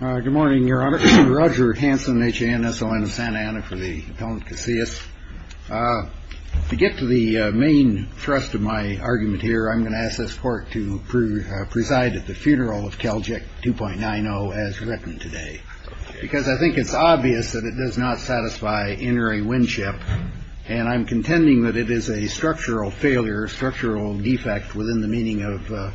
Good morning, Your Honor. Roger Hanson, H.A.N.S.O.N. of Santa Ana for the Appellant Casillas. To get to the main thrust of my argument here, I'm going to ask this Court to preside at the funeral of Calject 2.90 as written today, because I think it's obvious that it does not satisfy interiwinship, and I'm contending that it is a structural failure, a structural defect within the meaning of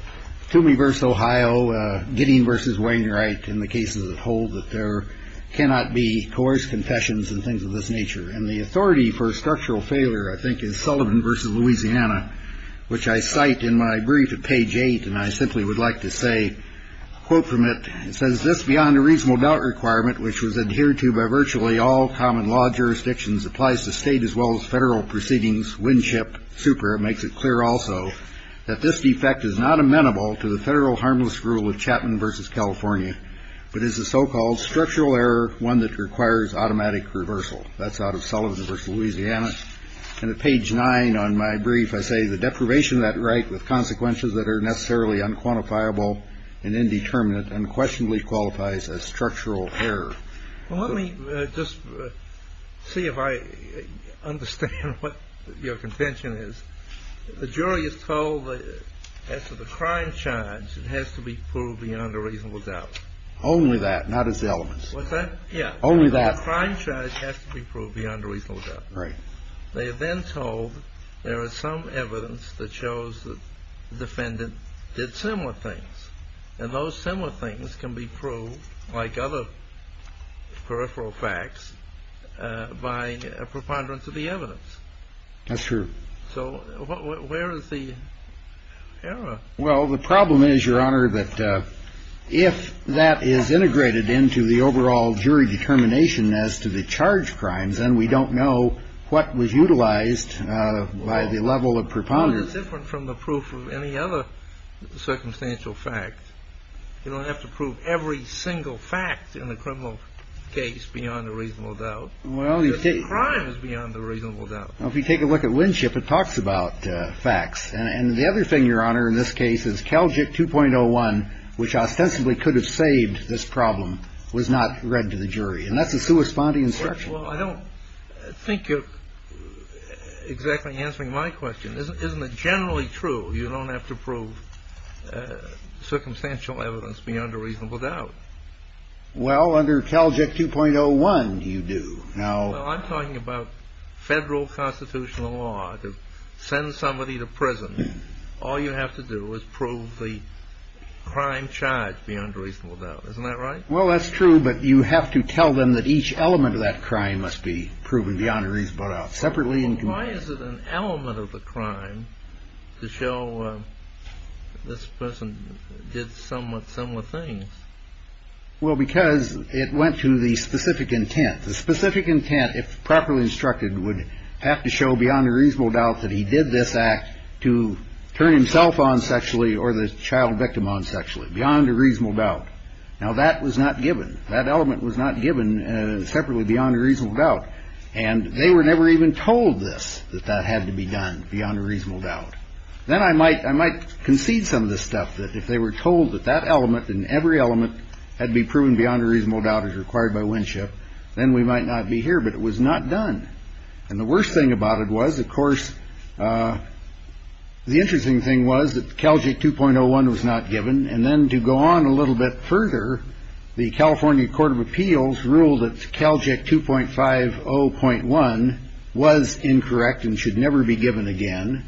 Toomey v. Ohio, Gidding v. Wainwright in the cases that hold that there cannot be coerced confessions and things of this nature. And the authority for a structural failure, I think, is Sullivan v. Louisiana, which I cite in my brief at page 8, and I simply would like to say a quote from it. It says, This beyond a reasonable doubt requirement, which was adhered to by virtually all common law jurisdictions, applies to state as well as federal proceedings. It makes it clear also that this defect is not amenable to the federal harmless rule of Chapman versus California, but is a so-called structural error, one that requires automatic reversal. That's out of Sullivan v. Louisiana. And at page nine on my brief, I say the deprivation of that right with consequences that are necessarily unquantifiable and indeterminate and questionably qualifies as structural error. Well, let me just see if I understand what your contention is. The jury is told that as to the crime charge, it has to be proved beyond a reasonable doubt. Only that, not its elements. Yeah. Only that. The crime charge has to be proved beyond a reasonable doubt. Right. They are then told there is some evidence that shows the defendant did similar things, and those similar things can be proved, like other peripheral facts, by a preponderance of the evidence. That's true. So where is the error? Well, the problem is, Your Honor, that if that is integrated into the overall jury determination as to the charge crimes, then we don't know what was utilized by the level of preponderance. Well, that's different from the proof of any other circumstantial fact. You don't have to prove every single fact in the criminal case beyond a reasonable doubt. Well, you take… The crime is beyond a reasonable doubt. Well, if you take a look at Winship, it talks about facts. And the other thing, Your Honor, in this case is Calgic 2.01, which ostensibly could have saved this problem, was not read to the jury. And that's a sui spondi instruction. Well, I don't think you're exactly answering my question. Isn't it generally true you don't have to prove circumstantial evidence beyond a reasonable doubt? Well, under Calgic 2.01, you do. Now… Well, I'm talking about federal constitutional law. To send somebody to prison, all you have to do is prove the crime charge beyond a reasonable doubt. Isn't that right? Well, that's true, but you have to tell them that each element of that crime must be proven beyond a reasonable doubt separately. Why is it an element of the crime to show this person did somewhat similar things? Well, because it went to the specific intent. The specific intent, if properly instructed, would have to show beyond a reasonable doubt that he did this act to turn himself on sexually or the child victim on sexually. Beyond a reasonable doubt. Now, that was not given. That element was not given separately beyond a reasonable doubt. And they were never even told this, that that had to be done beyond a reasonable doubt. Then I might concede some of this stuff, that if they were told that that element and every element had to be proven beyond a reasonable doubt as required by Winship, then we might not be here. But it was not done. And the worst thing about it was, of course, the interesting thing was that Calgic 2.01 was not given. And then to go on a little bit further, the California Court of Appeals ruled that Calgic 2.5 0.1 was incorrect and should never be given again.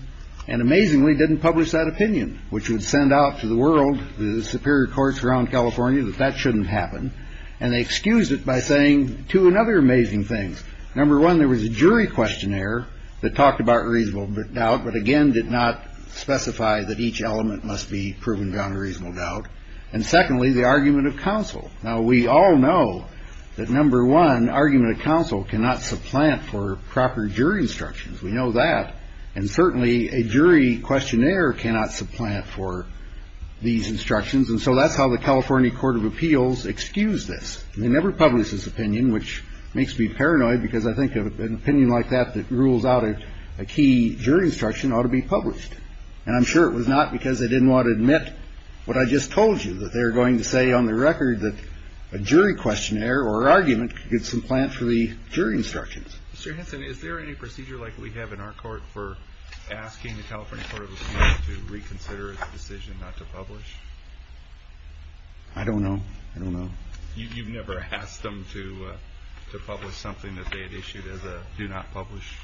And amazingly, didn't publish that opinion, which would send out to the world, the superior courts around California, that that shouldn't happen. And they excuse it by saying two and other amazing things. Number one, there was a jury questionnaire that talked about reasonable doubt, but again, did not specify that each element must be proven beyond a reasonable doubt. And secondly, the argument of counsel. Now, we all know that number one argument of counsel cannot supplant for proper jury instructions. We know that. And certainly a jury questionnaire cannot supplant for these instructions. And so that's how the California Court of Appeals excused this. They never published this opinion, which makes me paranoid because I think of an opinion like that that rules out a key jury instruction ought to be published. And I'm sure it was not because they didn't want to admit what I just told you, that they're going to say on the record that a jury questionnaire or argument could supplant for the jury instructions. And is there any procedure like we have in our court for asking the California Court of Appeals to reconsider the decision not to publish? I don't know. I don't know. You've never asked them to publish something that they had issued as a do not publish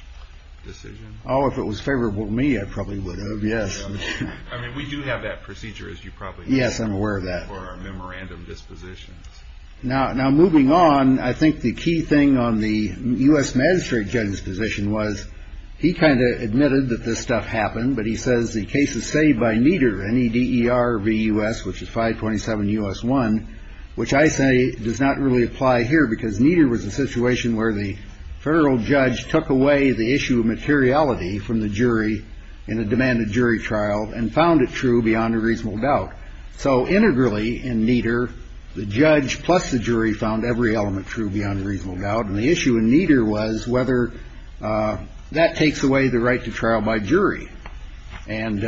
decision. Oh, if it was favorable to me, I probably would have. Yes. I mean, we do have that procedure, as you probably. Yes, I'm aware of that. For our memorandum dispositions. Now, moving on, I think the key thing on the U.S. magistrate judge's position was he kind of admitted that this stuff happened. But he says the case is saved by Nieder, N-E-D-E-R-V-U-S, which is 527 U.S. 1, which I say does not really apply here because Nieder was a situation where the federal judge took away the issue of materiality from the jury in a demanded jury trial and found it true beyond a reasonable doubt. So integrally, in Nieder, the judge plus the jury found every element true beyond a reasonable doubt. And the issue in Nieder was whether that takes away the right to trial by jury. And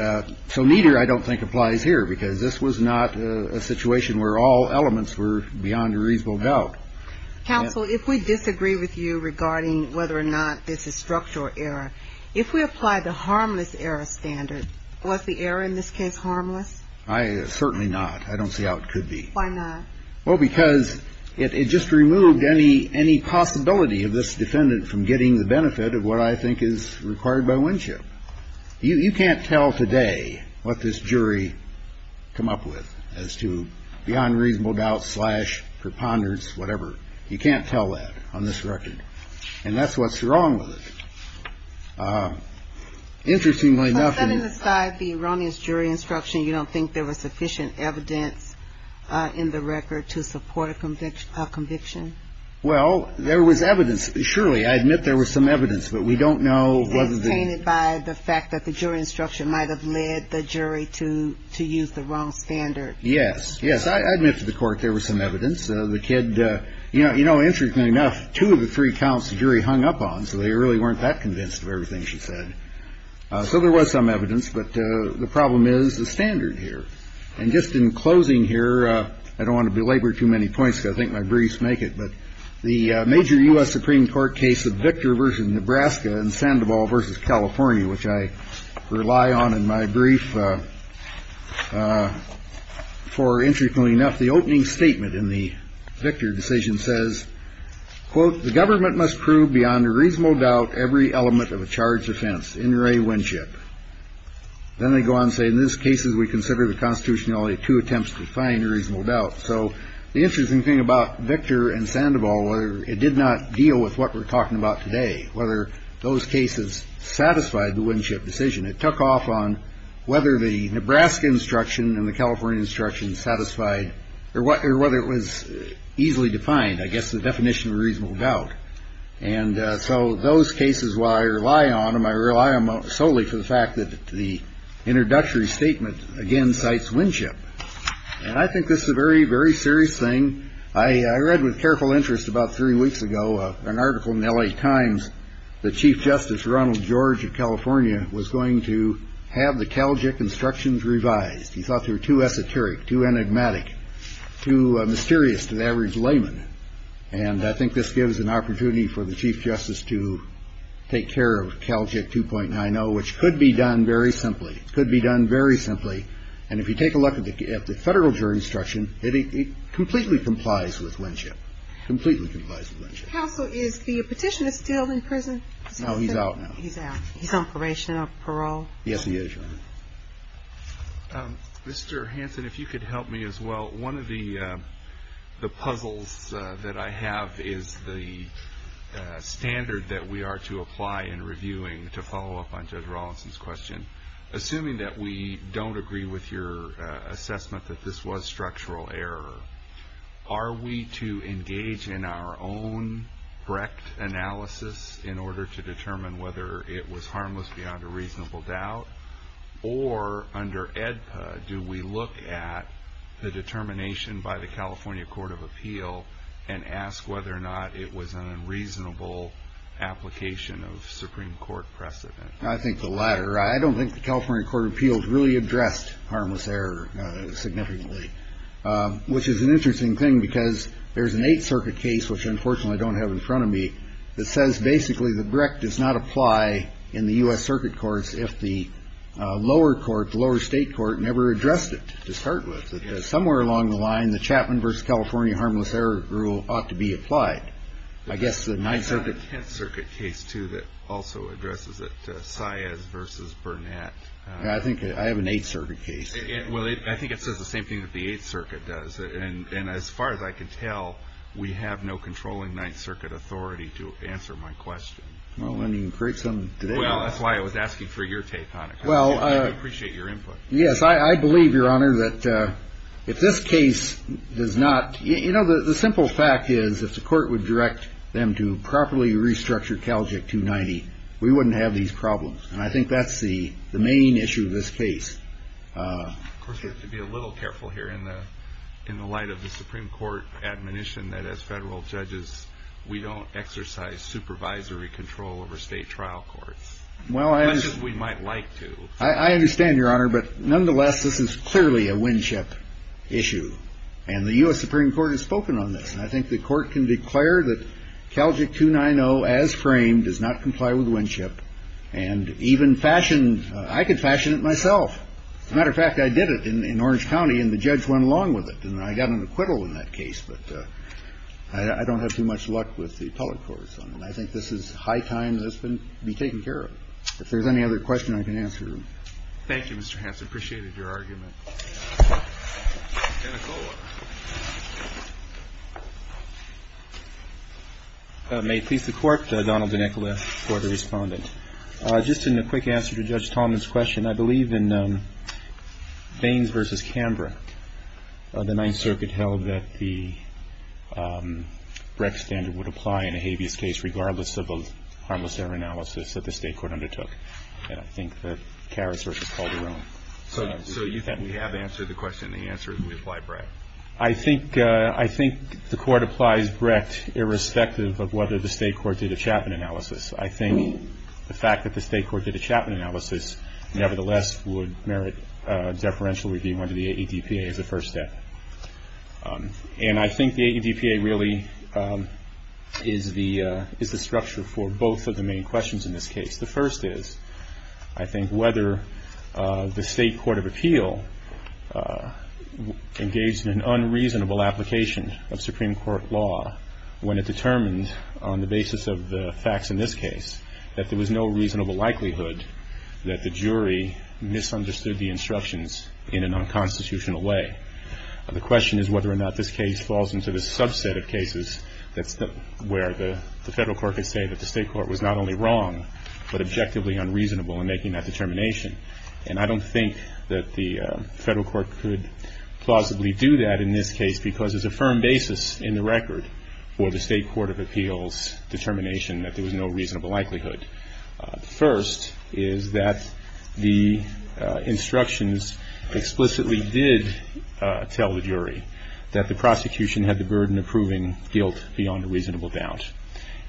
so Nieder, I don't think, applies here because this was not a situation where all elements were beyond a reasonable doubt. Counsel, if we disagree with you regarding whether or not this is structural error, if we apply the harmless error standard, was the error in this case harmless? I certainly not. I don't see how it could be. Why not? Well, because it just removed any possibility of this defendant from getting the benefit of what I think is required by Winship. You can't tell today what this jury come up with as to beyond reasonable doubt slash preponderance, whatever. You can't tell that on this record. And that's what's wrong with it. Interestingly enough. Setting aside the erroneous jury instruction, you don't think there was sufficient evidence in the record to support a conviction? Well, there was evidence. Surely, I admit there was some evidence, but we don't know whether the. Is this tainted by the fact that the jury instruction might have led the jury to use the wrong standard? Yes, yes. I admit to the court there was some evidence. The kid, you know, you know, interestingly enough, two of the three counts the jury hung up on. So they really weren't that convinced of everything she said. So there was some evidence. But the problem is the standard here. And just in closing here, I don't want to belabor too many points. I think my briefs make it. But the major U.S. Supreme Court case of Victor versus Nebraska and Sandoval versus California, which I rely on in my brief for, interestingly enough, the opening statement in the Victor decision says, quote, the government must prove beyond a reasonable doubt every element of a charged offense in Ray Winship. Then they go on, say, in this case, as we consider the Constitution, only two attempts to find a reasonable doubt. So the interesting thing about Victor and Sandoval, it did not deal with what we're talking about today, whether those cases satisfied the Winship decision. It took off on whether the Nebraska instruction and the California instruction satisfied or what or whether it was easily defined. I guess the definition of reasonable doubt. And so those cases, while I rely on them, I rely solely for the fact that the introductory statement, again, cites Winship. And I think this is a very, very serious thing. I read with careful interest about three weeks ago an article in L.A. Times. The chief justice, Ronald George of California, was going to have the Calgic instructions revised. He thought they were too esoteric, too enigmatic, too mysterious to the average layman. And I think this gives an opportunity for the chief justice to take care of Calgic 2.9. I know which could be done very simply, could be done very simply. And if you take a look at the federal jury instruction, it completely complies with Winship. Completely complies with Winship. Counsel, is the petitioner still in prison? No, he's out now. He's out. He's on probation or parole? Yes, he is, Your Honor. Mr. Hanson, if you could help me as well. One of the puzzles that I have is the standard that we are to apply in reviewing, to follow up on Judge Rawlinson's question. Assuming that we don't agree with your assessment that this was structural error, are we to engage in our own Brecht analysis in order to determine whether it was harmless beyond a reasonable doubt? Or under AEDPA, do we look at the determination by the California Court of Appeal and ask whether or not it was an unreasonable application of Supreme Court precedent? I think the latter. I don't think the California Court of Appeals really addressed harmless error significantly, which is an interesting thing because there's an Eighth Circuit case, which unfortunately I don't have in front of me, that says basically that Brecht does not apply in the U.S. Circuit Courts if the lower court, the lower state court never addressed it to start with. Somewhere along the line, the Chapman versus California harmless error rule ought to be applied. I have a Tenth Circuit case, too, that also addresses it, Saez versus Burnett. I have an Eighth Circuit case. I think it says the same thing that the Eighth Circuit does. And as far as I can tell, we have no controlling Ninth Circuit authority to answer my question. Well, let me create some today. That's why I was asking for your take on it. I appreciate your input. Yes, I believe, Your Honor, that if this case does not – you know, the simple fact is if the court would direct them to properly restructure CALJIC 290, we wouldn't have these problems, and I think that's the main issue of this case. Of course, we have to be a little careful here in the light of the Supreme Court admonition that as federal judges we don't exercise supervisory control over state trial courts, unless we might like to. I understand, Your Honor, but nonetheless, this is clearly a windship issue, and the U.S. Supreme Court has spoken on this, and I think the court can declare that CALJIC 290 as framed does not comply with windship, and even fashion – I could fashion it myself. As a matter of fact, I did it in Orange County, and the judge went along with it, and I got an acquittal in that case, but I don't have too much luck with the appellate courts on it. I think this is high time that this be taken care of. If there's any other question, I can answer. Thank you, Mr. Hanson. I just appreciated your argument. May it please the Court, Donald DeNicola for the respondent. Just in a quick answer to Judge Tallman's question, I believe in Baines v. Canberra, the Ninth Circuit held that the Brecht standard would apply in a habeas case regardless of a harmless error analysis that the state court undertook. And I think that Karras v. Calderone. So you have answered the question, and the answer is we apply Brecht. I think the Court applies Brecht irrespective of whether the state court did a Chapman analysis. I think the fact that the state court did a Chapman analysis, nevertheless, would merit deferential review under the 80 DPA as a first step. And I think the 80 DPA really is the structure for both of the main questions in this case. The first is I think whether the state court of appeal engaged in an unreasonable application of Supreme Court law when it determined on the basis of the facts in this case that there was no reasonable likelihood that the jury misunderstood the instructions in an unconstitutional way. The question is whether or not this case falls into the subset of cases where the federal court could say that the state court was not only wrong but objectively unreasonable in making that determination. And I don't think that the federal court could plausibly do that in this case because there's a firm basis in the record for the state court of appeals determination that there was no reasonable likelihood. First is that the instructions explicitly did tell the jury that the prosecution had the burden of proving guilt beyond a reasonable doubt.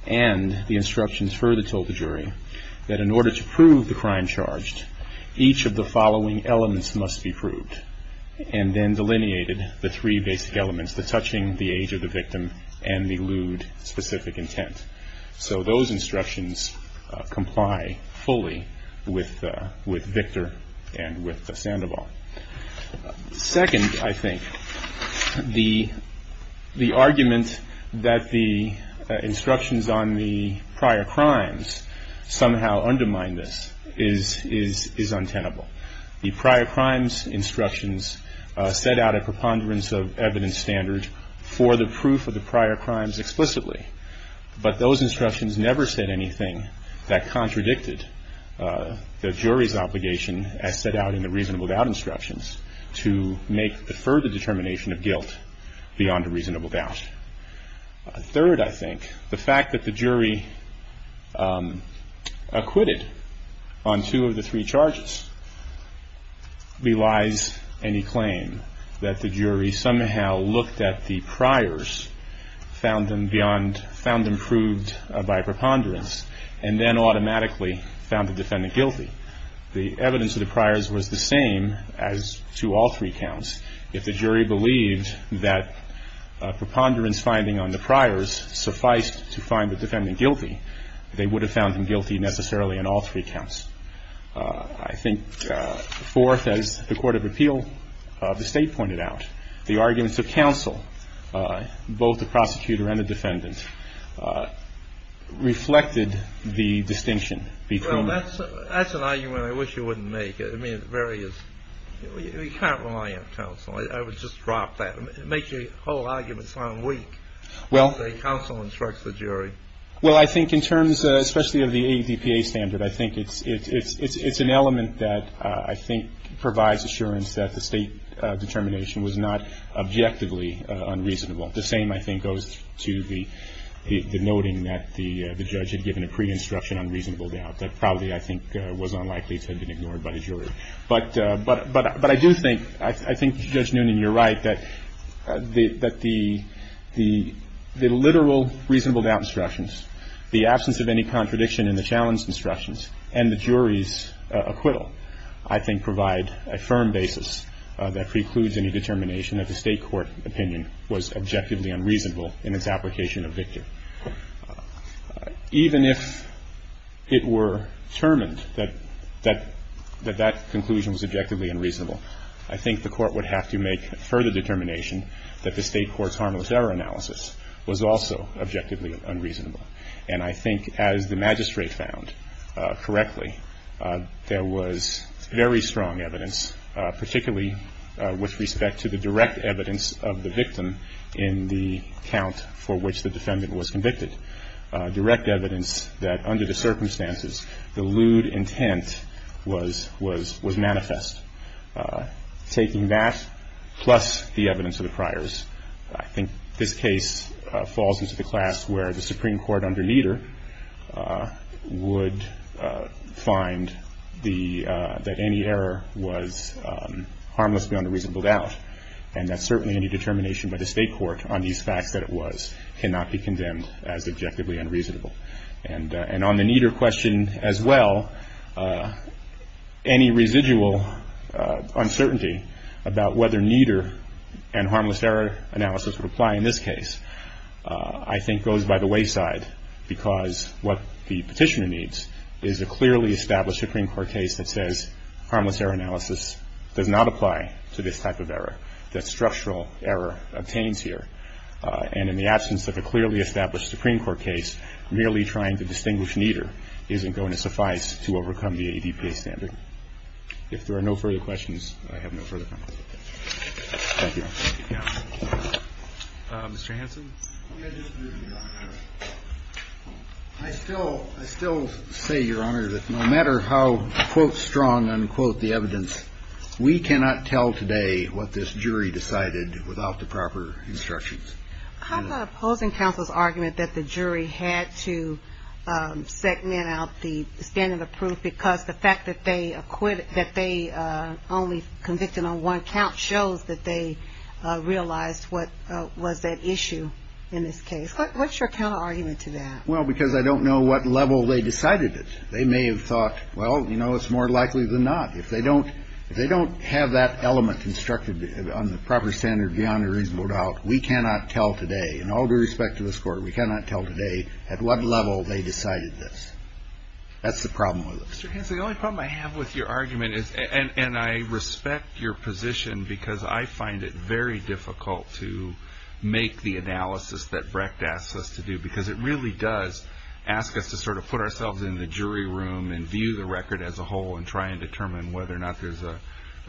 And the instructions further told the jury that in order to prove the crime charged, each of the following elements must be proved, and then delineated the three basic elements, the touching, the age of the victim, and the lewd specific intent. So those instructions comply fully with Victor and with Sandoval. Second, I think, the argument that the instructions on the prior crimes somehow undermine this is untenable. The prior crimes instructions set out a preponderance of evidence standard for the proof of the prior crimes explicitly, but those instructions never said anything that contradicted the jury's obligation as set out in the reasonable doubt instructions to make the further determination of guilt beyond a reasonable doubt. Third, I think, the fact that the jury acquitted on two of the three charges belies any claim that the jury somehow looked at the priors, found them beyond, found them proved by preponderance, and then automatically found the defendant guilty. The evidence of the priors was the same as to all three counts. If the jury believed that preponderance finding on the priors sufficed to find the defendant guilty, they would have found him guilty necessarily on all three counts. I think, fourth, as the Court of Appeal, the State pointed out, the arguments of counsel, both the prosecutor and the defendant, reflected the distinction between the two. That's an argument I wish you wouldn't make. I mean, it very is. You can't rely on counsel. I would just drop that. It makes the whole argument sound weak when the counsel instructs the jury. Well, I think in terms especially of the ADPA standard, I think it's an element that I think provides assurance that the State determination was not objectively unreasonable. The same, I think, goes to the noting that the judge had given a pre-instruction on reasonable doubt. That probably, I think, was unlikely to have been ignored by the jury. But I do think, I think Judge Noonan, you're right, that the literal reasonable doubt instructions, the absence of any contradiction in the challenge instructions, and the jury's acquittal I think provide a firm basis that precludes any determination that the State court opinion was objectively unreasonable in its application of victory. Even if it were determined that that conclusion was objectively unreasonable, I think the Court would have to make further determination that the State court's harmless error analysis was also objectively unreasonable. And I think as the magistrate found correctly, there was very strong evidence, particularly with respect to the direct evidence of the victim in the count for which the defendant was convicted. Direct evidence that under the circumstances, the lewd intent was manifest. Taking that plus the evidence of the priors, I think this case falls into the class where the Supreme Court, under Nieder, would find that any error was harmless beyond a reasonable doubt, and that certainly any determination by the State court on these facts that it was cannot be condemned as objectively unreasonable. And on the Nieder question as well, any residual uncertainty about whether Nieder and harmless error analysis would apply in this case, I think goes by the wayside because what the Petitioner needs is a clearly established Supreme Court case that says harmless error analysis does not apply to this type of error, that structural error obtains here. And in the absence of a clearly established Supreme Court case, merely trying to distinguish Nieder isn't going to suffice to overcome the ADPA standard. If there are no further questions, I have no further comments. Thank you. Mr. Hanson. I still say, Your Honor, that no matter how, quote, strong, unquote, the evidence, we cannot tell today what this jury decided without the proper instructions. How about opposing counsel's argument that the jury had to segment out the standard of proof because the fact that they only convicted on one count shows that they realized what was at issue in this case. What's your counterargument to that? Well, because I don't know what level they decided it. They may have thought, well, you know, it's more likely than not. If they don't have that element instructed on the proper standard beyond a reasonable doubt, we cannot tell today, and all due respect to this Court, we cannot tell today at what level they decided this. That's the problem with it. Mr. Hanson, the only problem I have with your argument is, and I respect your position because I find it very difficult to make the analysis that Brecht asks us to do because it really does ask us to sort of put ourselves in the jury room and view the record as a whole and try and determine whether or not there's a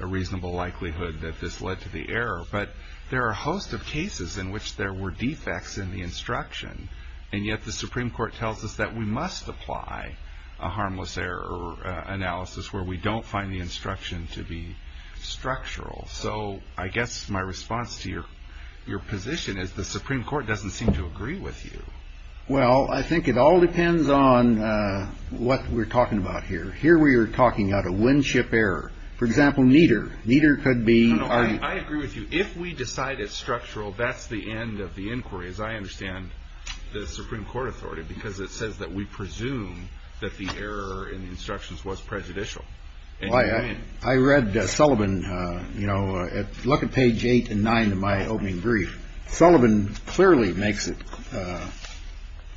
reasonable likelihood that this led to the error. But there are a host of cases in which there were defects in the instruction, and yet the Supreme Court tells us that we must apply a harmless error analysis where we don't find the instruction to be structural. So I guess my response to your position is the Supreme Court doesn't seem to agree with you. Well, I think it all depends on what we're talking about here. Here we are talking about a win-ship error. For example, neither. Neither could be. I agree with you. If we decide it's structural, that's the end of the inquiry, as I understand. The Supreme Court authority, because it says that we presume that the error in the instructions was prejudicial. And I read Sullivan, you know, look at page eight and nine of my opening brief. Sullivan clearly makes it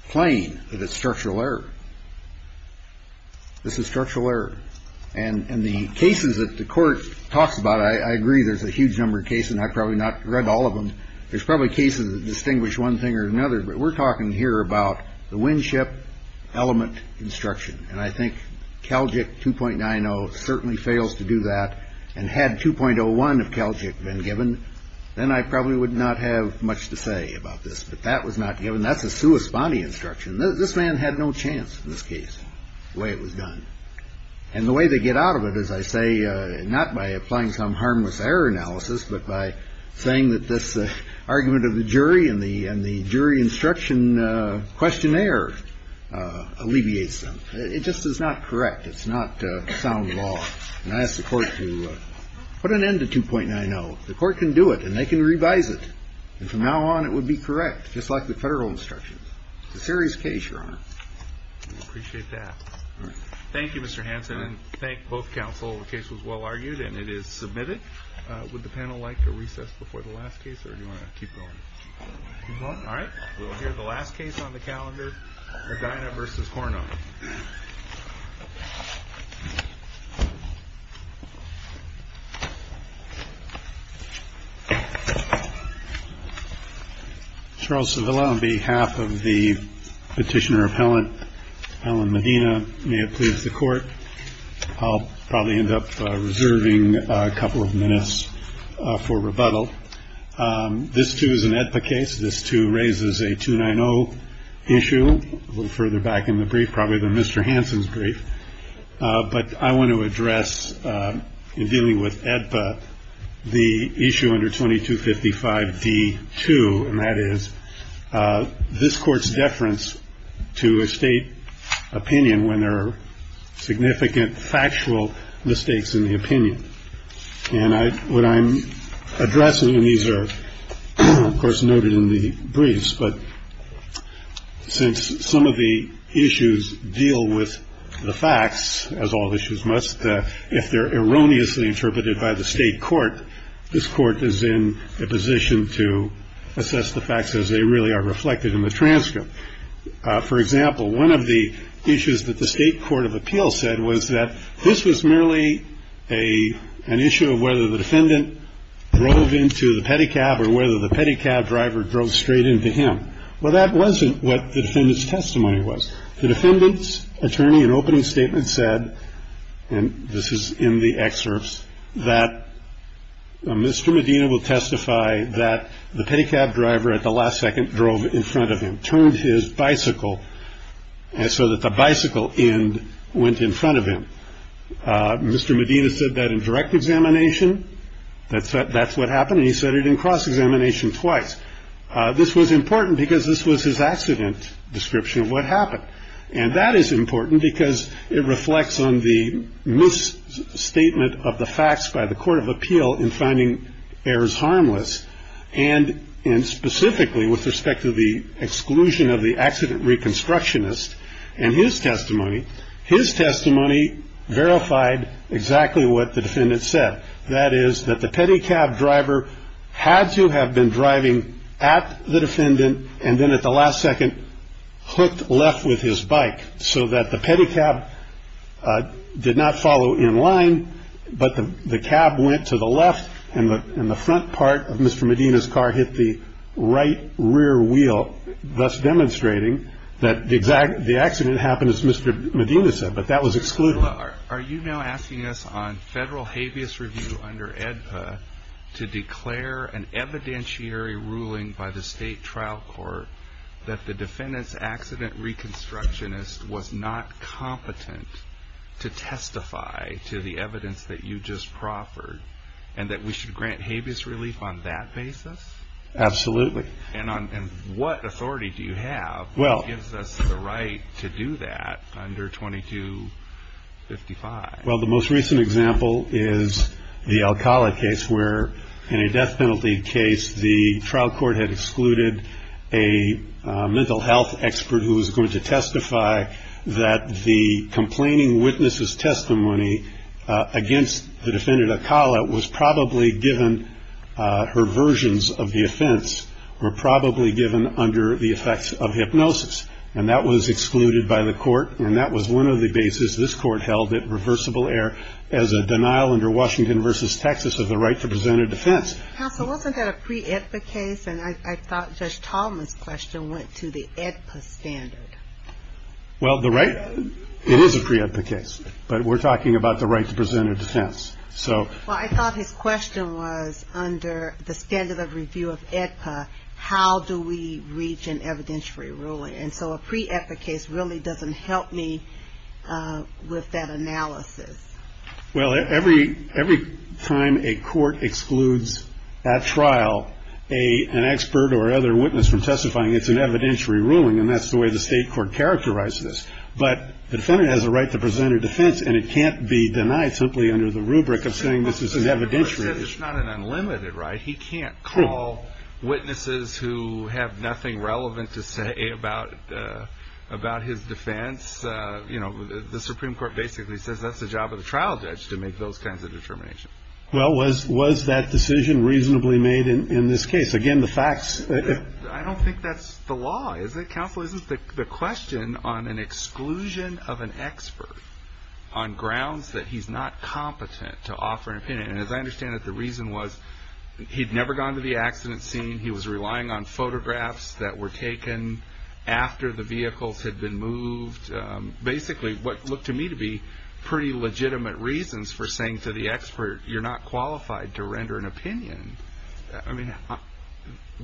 plain that it's structural error. This is structural error. And in the cases that the court talks about, I agree, there's a huge number of cases. And I've probably not read all of them. There's probably cases that distinguish one thing or another. But we're talking here about the win-ship element instruction. And I think Calgic 2.90 certainly fails to do that. And had 2.01 of Calgic been given, then I probably would not have much to say about this. But that was not given. That's a sua sponte instruction. This man had no chance in this case the way it was done. And the way they get out of it, as I say, not by applying some harmless error analysis, but by saying that this argument of the jury and the jury instruction questionnaire alleviates them. It just is not correct. It's not sound law. And I ask the Court to put an end to 2.90. The Court can do it, and they can revise it. And from now on, it would be correct, just like the Federal instructions. It's a serious case, Your Honor. We appreciate that. Thank you, Mr. Hanson. And thank both counsel. The case was well argued, and it is submitted. Would the panel like a recess before the last case, or do you want to keep going? All right. We'll hear the last case on the calendar, Medina v. Cournot. Charles Savilla on behalf of the petitioner appellant, Alan Medina, may it please the Court. I'll probably end up reserving a couple of minutes for rebuttal. This, too, is an AEDPA case. This, too, raises a 2.90 issue. A little further back in the brief, probably the Mr. Hanson's brief. But I want to address, in dealing with AEDPA, the issue under 2255d-2, and that is this court's deference to a state opinion when there are significant factual mistakes in the opinion. And what I'm addressing, and these are, of course, noted in the briefs, but since some of the issues deal with the facts, as all issues must, if they're erroneously interpreted by the state court, this court is in a position to assess the facts as they really are reflected in the transcript. For example, one of the issues that the state court of appeals said was that this was merely an issue of whether the defendant drove into the pedicab or whether the pedicab driver drove straight into him. Well, that wasn't what the defendant's testimony was. The defendant's attorney in opening statement said, and this is in the excerpts, that Mr. Medina will testify that the pedicab driver at the last second drove in front of him, turned his bicycle so that the bicycle end went in front of him. Mr. Medina said that in direct examination. That's what happened. And he said it in cross-examination twice. This was important because this was his accident description of what happened. And that is important because it reflects on the misstatement of the facts by the court of appeal in finding errors harmless. And specifically with respect to the exclusion of the accident reconstructionist and his testimony, his testimony verified exactly what the defendant said. That is that the pedicab driver had to have been driving at the defendant and then at the last second hooked left with his bike so that the pedicab did not follow in line, but the cab went to the left and the front part of Mr. Medina's car hit the right rear wheel, thus demonstrating that the accident happened as Mr. Medina said, but that was excluded. Are you now asking us on federal habeas review under AEDPA to declare an evidentiary ruling by the state trial court that the defendant's accident reconstructionist was not competent to testify to the evidence that you just proffered and that we should grant habeas relief on that basis? Absolutely. And what authority do you have that gives us the right to do that under 2255? Well, the most recent example is the Alcala case where in a death penalty case, the trial court had excluded a mental health expert who was going to testify that the complaining witness's testimony against the defendant, Alcala, was probably given her versions of the offense were probably given under the effects of hypnosis, and that was excluded by the court and that was one of the bases this court held at reversible error as a denial under Washington v. Texas of the right to present a defense. Counsel, wasn't that a pre-AEDPA case? And I thought Judge Tallman's question went to the AEDPA standard. Well, it is a pre-AEDPA case, but we're talking about the right to present a defense. Well, I thought his question was under the standard of review of AEDPA, how do we reach an evidentiary ruling? And so a pre-AEDPA case really doesn't help me with that analysis. Well, every time a court excludes at trial an expert or other witness from testifying, it's an evidentiary ruling, and that's the way the state court characterized this. But the defendant has a right to present a defense, and it can't be denied simply under the rubric of saying this is an evidentiary. The Supreme Court says it's not an unlimited right. He can't call witnesses who have nothing relevant to say about his defense. The Supreme Court basically says that's the job of the trial judge to make those kinds of determinations. Well, was that decision reasonably made in this case? Again, the facts. I don't think that's the law, is it, Counsel? No, this is the question on an exclusion of an expert on grounds that he's not competent to offer an opinion. And as I understand it, the reason was he'd never gone to the accident scene. He was relying on photographs that were taken after the vehicles had been moved, basically what looked to me to be pretty legitimate reasons for saying to the expert, you're not qualified to render an opinion. I mean,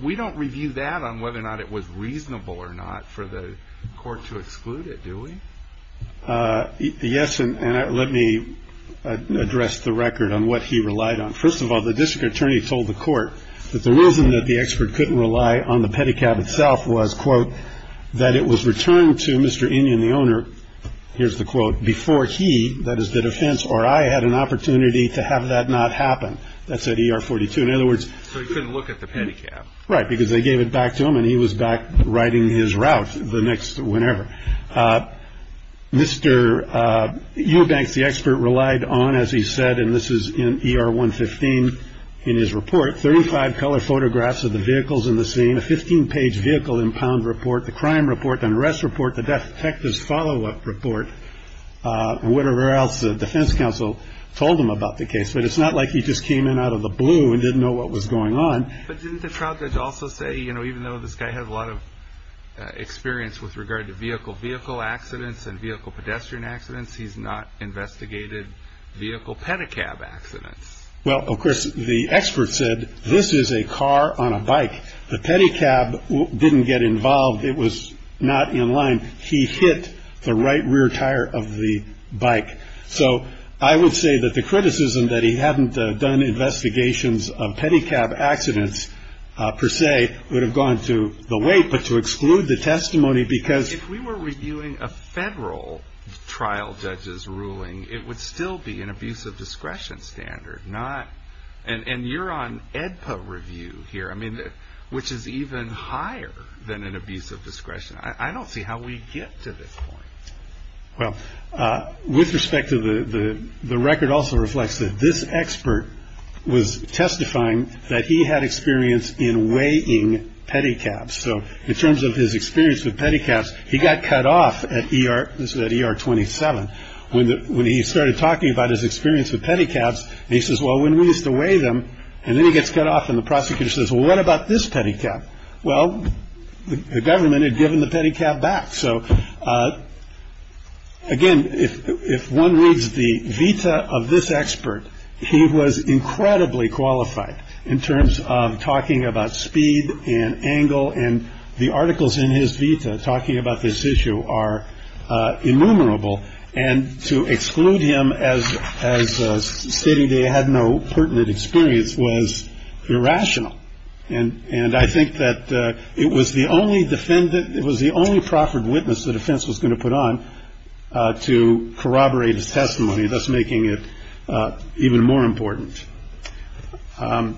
we don't review that on whether or not it was reasonable or not for the court to exclude it, do we? Yes, and let me address the record on what he relied on. First of all, the district attorney told the court that the reason that the expert couldn't rely on the pedicab itself was, quote, that it was returned to Mr. Inyon, the owner, here's the quote, before he, that is the defense, or I had an opportunity to have that not happen. That's at ER 42. In other words. So he couldn't look at the pedicab. Right, because they gave it back to him and he was back riding his route the next whenever. Mr. Eurbanks, the expert, relied on, as he said, and this is in ER 115 in his report, 35 color photographs of the vehicles in the scene, a 15 page vehicle impound report, the crime report, the arrest report, the death detectives follow up report, whatever else the defense counsel told him about the case. But it's not like he just came in out of the blue and didn't know what was going on. But didn't the trial judge also say, you know, even though this guy has a lot of experience with regard to vehicle-vehicle accidents and vehicle-pedestrian accidents, he's not investigated vehicle-pedicab accidents? Well, of course, the expert said this is a car on a bike. The pedicab didn't get involved. It was not in line. He hit the right rear tire of the bike. So I would say that the criticism that he hadn't done investigations of pedicab accidents per se would have gone to the weight, but to exclude the testimony because... If we were reviewing a federal trial judge's ruling, it would still be an abuse of discretion standard, not... And you're on AEDPA review here, I mean, which is even higher than an abuse of discretion. I don't see how we get to this point. Well, with respect to the record, also reflects that this expert was testifying that he had experience in weighing pedicabs. So in terms of his experience with pedicabs, he got cut off at ER... This was at ER 27. When he started talking about his experience with pedicabs, he says, well, when we used to weigh them... And then he gets cut off and the prosecutor says, well, what about this pedicab? Well, the government had given the pedicab back. So, again, if one reads the vita of this expert, he was incredibly qualified in terms of talking about speed and angle. And the articles in his vita talking about this issue are innumerable. And to exclude him as stating they had no pertinent experience was irrational. And I think that it was the only defendant... It was the only proffered witness the defense was going to put on to corroborate his testimony, thus making it even more important. One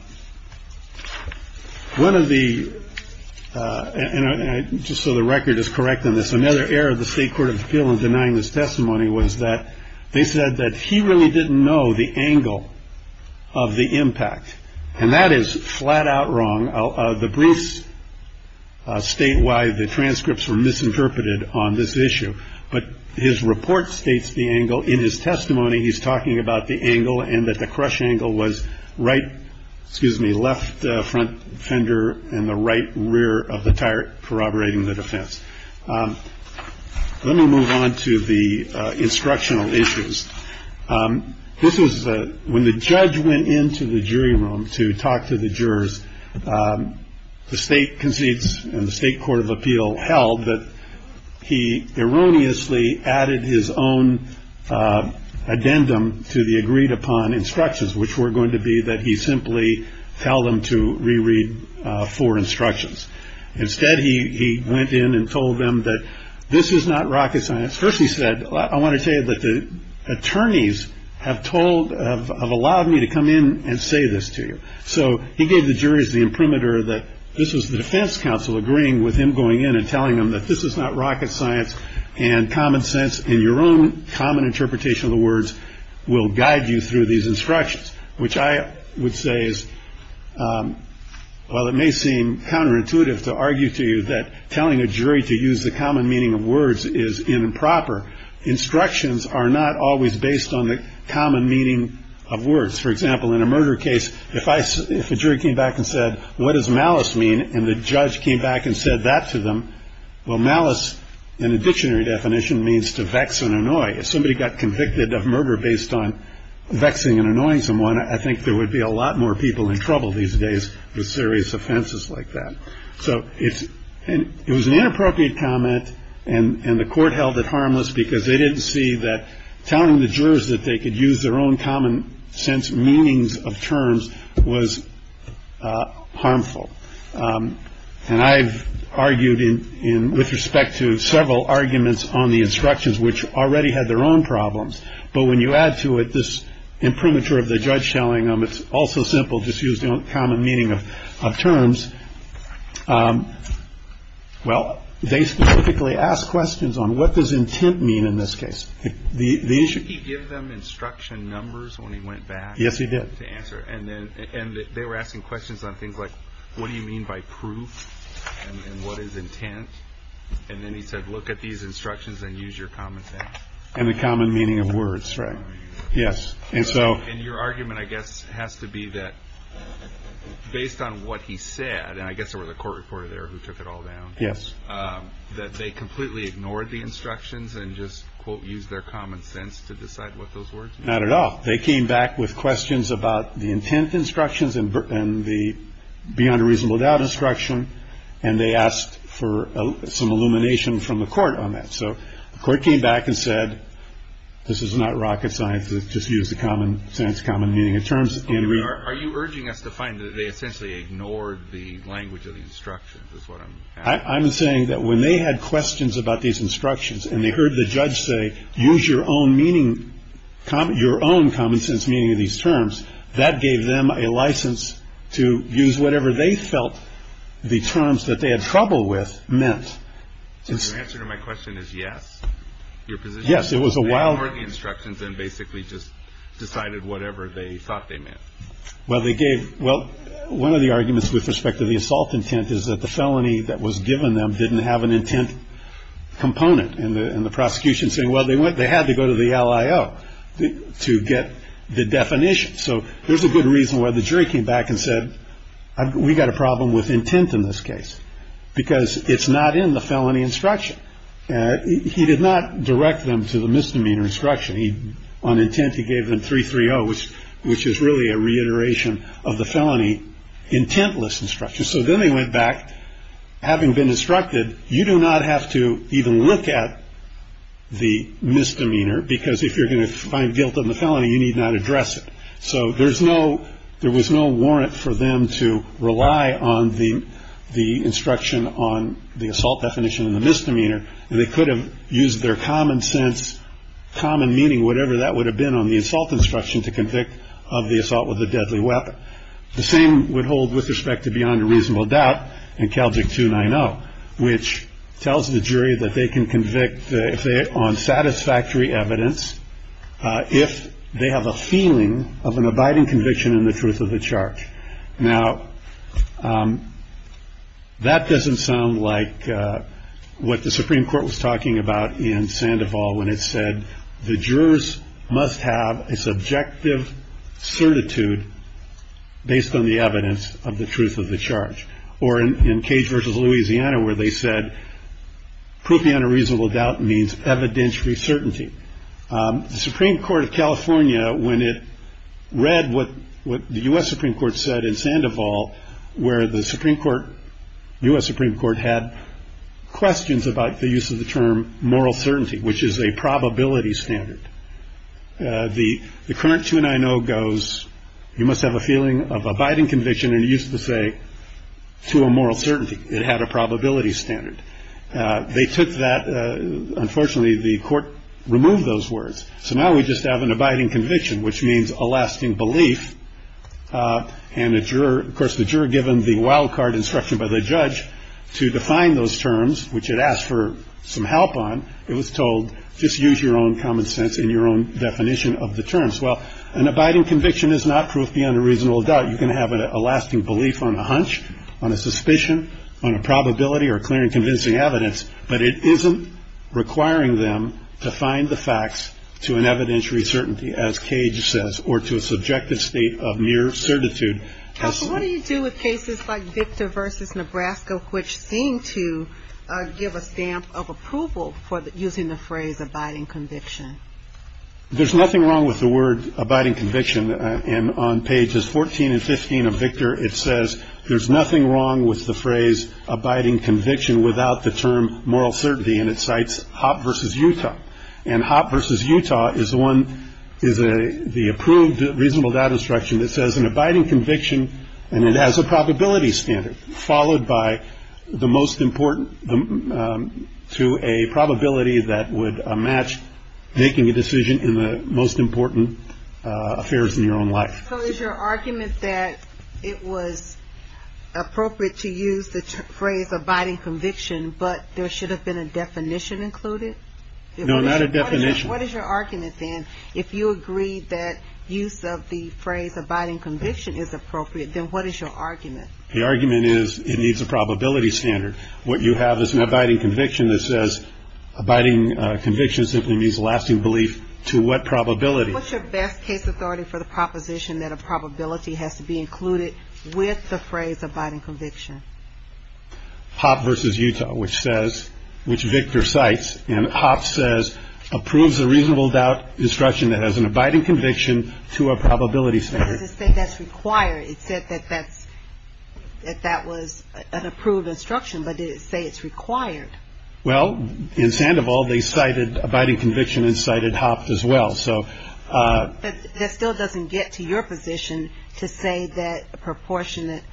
of the... And just so the record is correct on this, another error of the State Court of Appeal in denying this testimony was that they said that he really didn't know the angle of the impact. And that is flat out wrong. The briefs state why the transcripts were misinterpreted on this issue. But his report states the angle in his testimony. He's talking about the angle and that the crush angle was right. Excuse me, left front fender and the right rear of the tire corroborating the defense. Let me move on to the instructional issues. This was when the judge went into the jury room to talk to the jurors. The state concedes in the state court of appeal held that he erroneously added his own addendum to the agreed upon instructions, which were going to be that he simply tell them to reread for instructions. Instead, he went in and told them that this is not rocket science. First, he said, I want to say that the attorneys have told have allowed me to come in and say this to you. So he gave the jurors the imprimatur that this was the defense counsel agreeing with him, going in and telling them that this is not rocket science. And common sense in your own common interpretation of the words will guide you through these instructions, which I would say is. Well, it may seem counterintuitive to argue to you that telling a jury to use the common meaning of words is improper. Instructions are not always based on the common meaning of words. For example, in a murder case, if I if a jury came back and said, what does malice mean? And the judge came back and said that to them. Well, malice in a dictionary definition means to vex and annoy. If somebody got convicted of murder based on vexing and annoying someone, I think there would be a lot more people in trouble these days with serious offenses like that. So it's it was an inappropriate comment. And the court held it harmless because they didn't see that telling the jurors that they could use their own common sense meanings of terms was harmful. And I've argued in with respect to several arguments on the instructions, which already had their own problems. But when you add to it this imprimatur of the judge telling them it's also simple, just use the common meaning of terms. Well, they typically ask questions on what does intent mean in this case? The issue you give them instruction numbers when he went back. Yes, he did answer. And then they were asking questions on things like, what do you mean by proof? And what is intent? And then he said, look at these instructions and use your common sense. And the common meaning of words. Right. Yes. And so your argument, I guess, has to be that based on what he said, and I guess it was a court reporter there who took it all down. Yes. That they completely ignored the instructions and just, quote, use their common sense to decide what those words. Not at all. They came back with questions about the intent instructions and the beyond a reasonable doubt instruction. And they asked for some illumination from the court on that. So the court came back and said, this is not rocket science. Just use the common sense, common meaning of terms. Are you urging us to find that they essentially ignored the language of the instructions? I'm saying that when they had questions about these instructions and they heard the judge say, use your own meaning. Your own common sense meaning of these terms that gave them a license to use whatever they felt the terms that they had trouble with meant. Answer to my question is, yes, your position. Yes. It was a while. The instructions and basically just decided whatever they thought they meant. Well, they gave. Well, one of the arguments with respect to the assault intent is that the felony that was given them didn't have an intent component. And the prosecution saying, well, they went they had to go to the LIO to get the definition. So there's a good reason why the jury came back and said, we've got a problem with intent in this case because it's not in the felony instruction. He did not direct them to the misdemeanor instruction. He on intent. He gave them three three. Oh, which which is really a reiteration of the felony intentless instruction. So then they went back. Having been instructed, you do not have to even look at the misdemeanor, because if you're going to find guilt in the felony, you need not address it. So there's no there was no warrant for them to rely on the the instruction on the assault definition of the misdemeanor. And they could have used their common sense, common meaning, whatever that would have been on the assault instruction to convict of the assault with a deadly weapon. The same would hold with respect to beyond a reasonable doubt and Calvin to nine. Oh, which tells the jury that they can convict if they are on satisfactory evidence, if they have a feeling of an abiding conviction in the truth of the charge. Now, that doesn't sound like what the Supreme Court was talking about in Sandoval when it said the jurors must have a subjective certitude. Based on the evidence of the truth of the charge or in Cage versus Louisiana, where they said. Proof beyond a reasonable doubt means evidentiary certainty. The Supreme Court of California, when it read what the US Supreme Court said in Sandoval, where the Supreme Court, US Supreme Court had questions about the use of the term moral certainty, which is a probability standard. The current tune I know goes, you must have a feeling of abiding conviction and used to say to a moral certainty. It had a probability standard. They took that. Unfortunately, the court removed those words. So now we just have an abiding conviction, which means a lasting belief. And the juror, of course, the juror given the wildcard instruction by the judge to define those terms, which it asked for some help on, it was told, just use your own common sense in your own definition of the terms. Well, an abiding conviction is not proof beyond a reasonable doubt. You can have a lasting belief on a hunch, on a suspicion, on a probability or clear and convincing evidence. But it isn't requiring them to find the facts to an evidentiary certainty, as Cage says, or to a subjective state of mere certitude. What do you do with cases like Victor versus Nebraska, which seem to give a stamp of approval for using the phrase abiding conviction? There's nothing wrong with the word abiding conviction. And on pages 14 and 15 of Victor, it says there's nothing wrong with the phrase abiding conviction without the term moral certainty. And it cites Hopp versus Utah. And Hopp versus Utah is one is the approved reasonable doubt instruction that says an abiding conviction. And it has a probability standard followed by the most important to a probability that would match making a decision in the most important affairs in your own life. So is your argument that it was appropriate to use the phrase abiding conviction, but there should have been a definition included? No, not a definition. What is your argument then? If you agree that use of the phrase abiding conviction is appropriate, then what is your argument? The argument is it needs a probability standard. What you have is an abiding conviction that says abiding conviction simply means lasting belief to what probability? What's your best case authority for the proposition that a probability has to be included with the phrase abiding conviction? Hopp versus Utah, which says which Victor cites, and Hopp says approves the reasonable doubt instruction that has an abiding conviction to a probability standard. Does it say that's required? It said that that was an approved instruction, but did it say it's required? Well, in Sandoval, they cited abiding conviction and cited Hopp as well. That still doesn't get to your position to say that a proportionate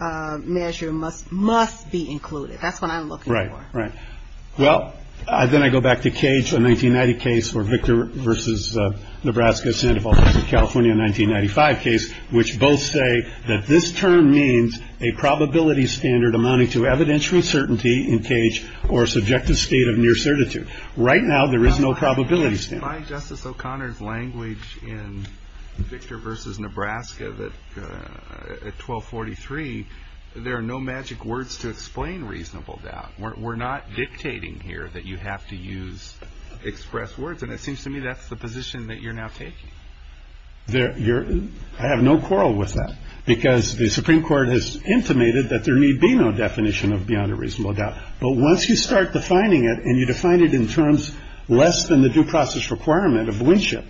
measure must be included. That's what I'm looking for. Right, right. Well, then I go back to Cage, a 1990 case where Victor versus Nebraska, Sandoval versus California, a 1995 case, which both say that this term means a probability standard amounting to evidential certainty in Cage or subjective state of near certitude. Right now, there is no probability standard. By Justice O'Connor's language in Victor versus Nebraska at 1243, there are no magic words to explain reasonable doubt. We're not dictating here that you have to use expressed words. And it seems to me that's the position that you're now taking. I have no quarrel with that because the Supreme Court has intimated that there need be no definition of beyond a reasonable doubt. But once you start defining it and you define it in terms less than the due process requirement of winship,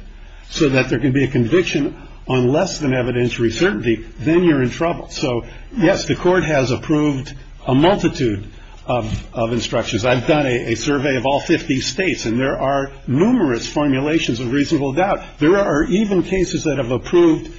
so that there can be a conviction on less than evidentiary certainty, then you're in trouble. So, yes, the court has approved a multitude of instructions. I've done a survey of all 50 states and there are numerous formulations of reasonable doubt. There are even cases that have approved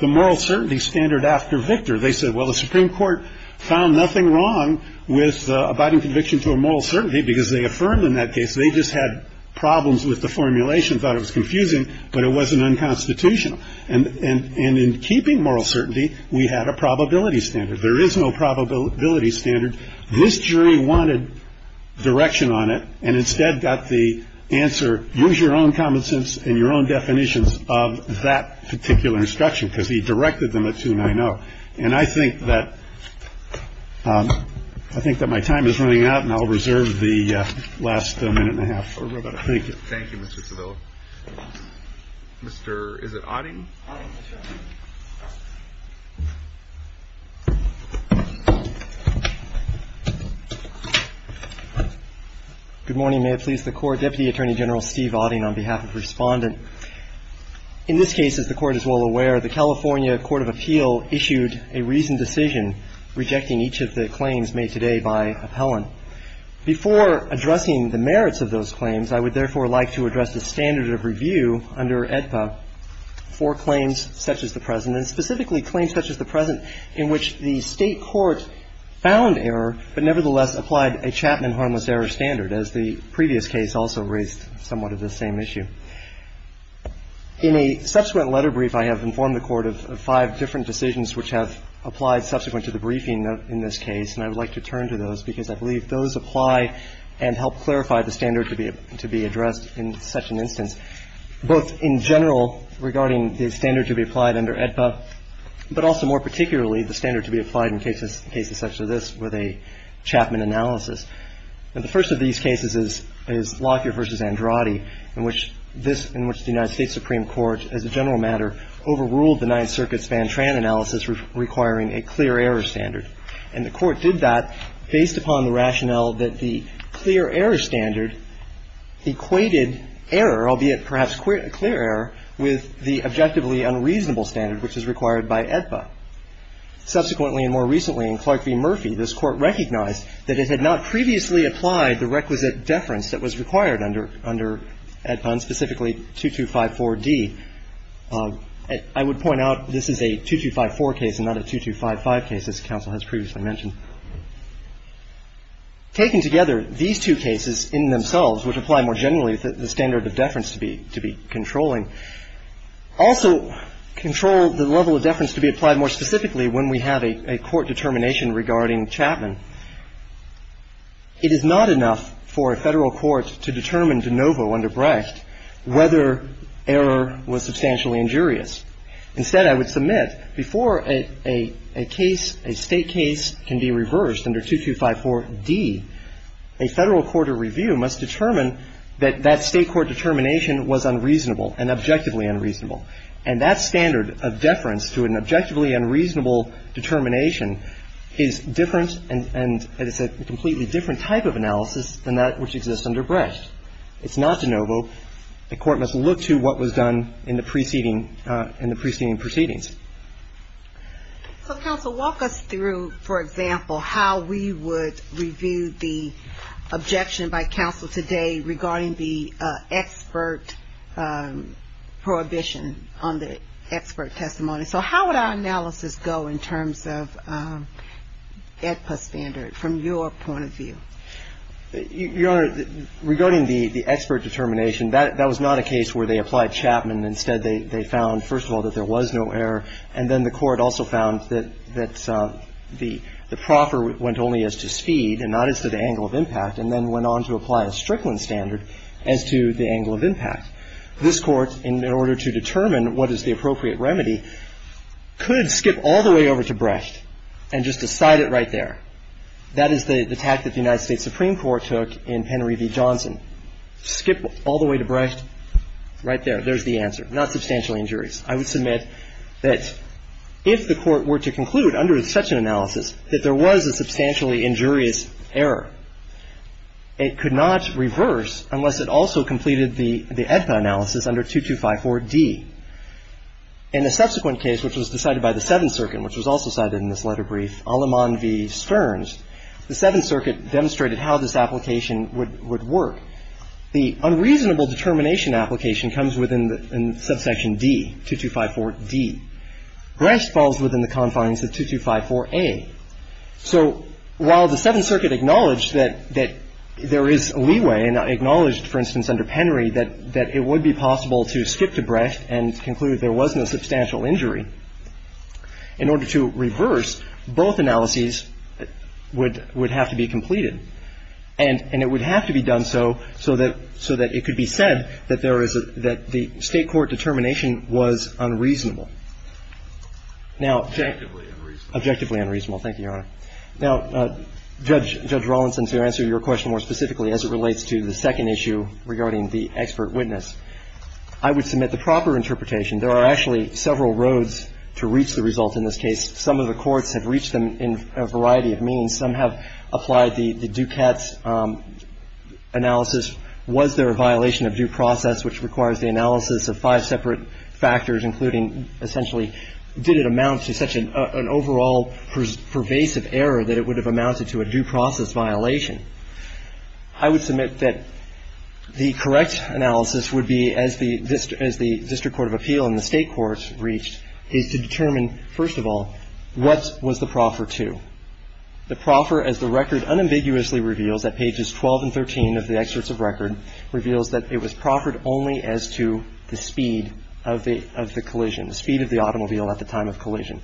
the moral certainty standard after Victor. They said, well, the Supreme Court found nothing wrong with abiding conviction to a moral certainty because they affirmed in that case. They just had problems with the formulation. Thought it was confusing, but it wasn't unconstitutional. And in keeping moral certainty, we had a probability standard. There is no probability standard. This jury wanted direction on it and instead got the answer. So, yes, the court has approved a multitude of instructions. I have no quarrel with that because the Supreme Court has intimated that there need be no definition of beyond a reasonable doubt. then you're in trouble. So, yes, the court has approved a multitude of instructions. So, yes, the court has approved a multitude of instructions. So, yes, the court has approved a multitude of instructions. I have a question for Justice Steve Auding on behalf of Respondent. In this case, as the Court is well aware, the California Court of Appeal issued a reasoned decision rejecting each of the claims made today by appellant. Before addressing the merits of those claims, I would therefore like to address the standard of review under AEDPA for claims such as the present and specifically claims such as the present in which the state court found error but nevertheless applied a Chapman harmless error standard, as the previous case also raised somewhat of the same issue. In a subsequent letter brief, I have informed the Court of five different decisions which have applied subsequent to the briefing in this case, and I would like to turn to those because I believe those apply and help clarify the standard to be addressed in such an instance, both in general regarding the standard to be applied under AEDPA, but also more particularly the standard to be applied in cases such as this with a Chapman analysis. Now, the first of these cases is Lockyer v. Andrade, in which the United States Supreme Court, as a general matter, overruled the Ninth Circuit's Van Tran analysis requiring a clear error standard. And the Court did that based upon the rationale that the clear error standard equated error, albeit perhaps clear error, with the objectively unreasonable standard which is required by AEDPA. Subsequently and more recently, in Clark v. Murphy, this Court recognized that it had not previously applied the requisite deference that was required under AEDPA, and specifically 2254d. I would point out this is a 2254 case and not a 2255 case, as counsel has previously mentioned. Taken together, these two cases in themselves would apply more generally the standard of deference to be controlling. Also control the level of deference to be applied more specifically when we have a court determination regarding Chapman. It is not enough for a Federal court to determine de novo under Brecht whether error was substantially injurious. Instead, I would submit before a case, a State case can be reversed under 2254d, a Federal court of review must determine that that State court determination was unreasonable and objectively unreasonable. And that standard of deference to an objectively unreasonable determination is different and is a completely different type of analysis than that which exists under Brecht. It's not de novo. The Court must look to what was done in the preceding proceedings. So, counsel, walk us through, for example, how we would review the objection by counsel today regarding the expert prohibition on the expert testimony. So how would our analysis go in terms of AEDPA standard from your point of view? Your Honor, regarding the expert determination, that was not a case where they applied Chapman. Instead, they found, first of all, that there was no error. And then the Court also found that the proffer went only as to speed and not as to the angle of impact, and then went on to apply a Strickland standard as to the angle of impact. This Court, in order to determine what is the appropriate remedy, could skip all the way over to Brecht and just decide it right there. That is the tact that the United States Supreme Court took in Henry v. Johnson. Skip all the way to Brecht. Right there. There's the answer. Not substantially injurious. I would submit that if the Court were to conclude under such an analysis that there was a substantially injurious error, it could not reverse unless it also completed the AEDPA analysis under 2254d. In the subsequent case, which was decided by the Seventh Circuit, which was also cited in this letter brief, Aleman v. Stearns, the Seventh Circuit demonstrated how this application would work. The unreasonable determination application comes within subsection D, 2254d. Brecht falls within the confines of 2254a. So while the Seventh Circuit acknowledged that there is leeway and acknowledged, for instance, under Penry, that it would be possible to skip to Brecht and conclude there was no substantial injury, in order to reverse, both analyses would have to be completed. And it would have to be done so, so that it could be said that there is a ‑‑ that the State court determination was unreasonable. Now ‑‑ Objectively unreasonable. Objectively unreasonable. Thank you, Your Honor. Now, Judge Rawlinson, to answer your question more specifically as it relates to the second issue regarding the expert witness, I would submit the proper interpretation. There are actually several roads to reach the result in this case. Some of the courts have reached them in a variety of means. Some have applied the Dukat analysis. Was there a violation of due process, which requires the analysis of five separate factors, including essentially did it amount to such an overall pervasive error that it would have amounted to a due process violation? I would submit that the correct analysis would be, as the district court of appeal and the State court reached, is to determine, first of all, what was the proffer to? The proffer, as the record unambiguously reveals at pages 12 and 13 of the excerpts of record, reveals that it was proffered only as to the speed of the collision, the speed of the automobile at the time of collision.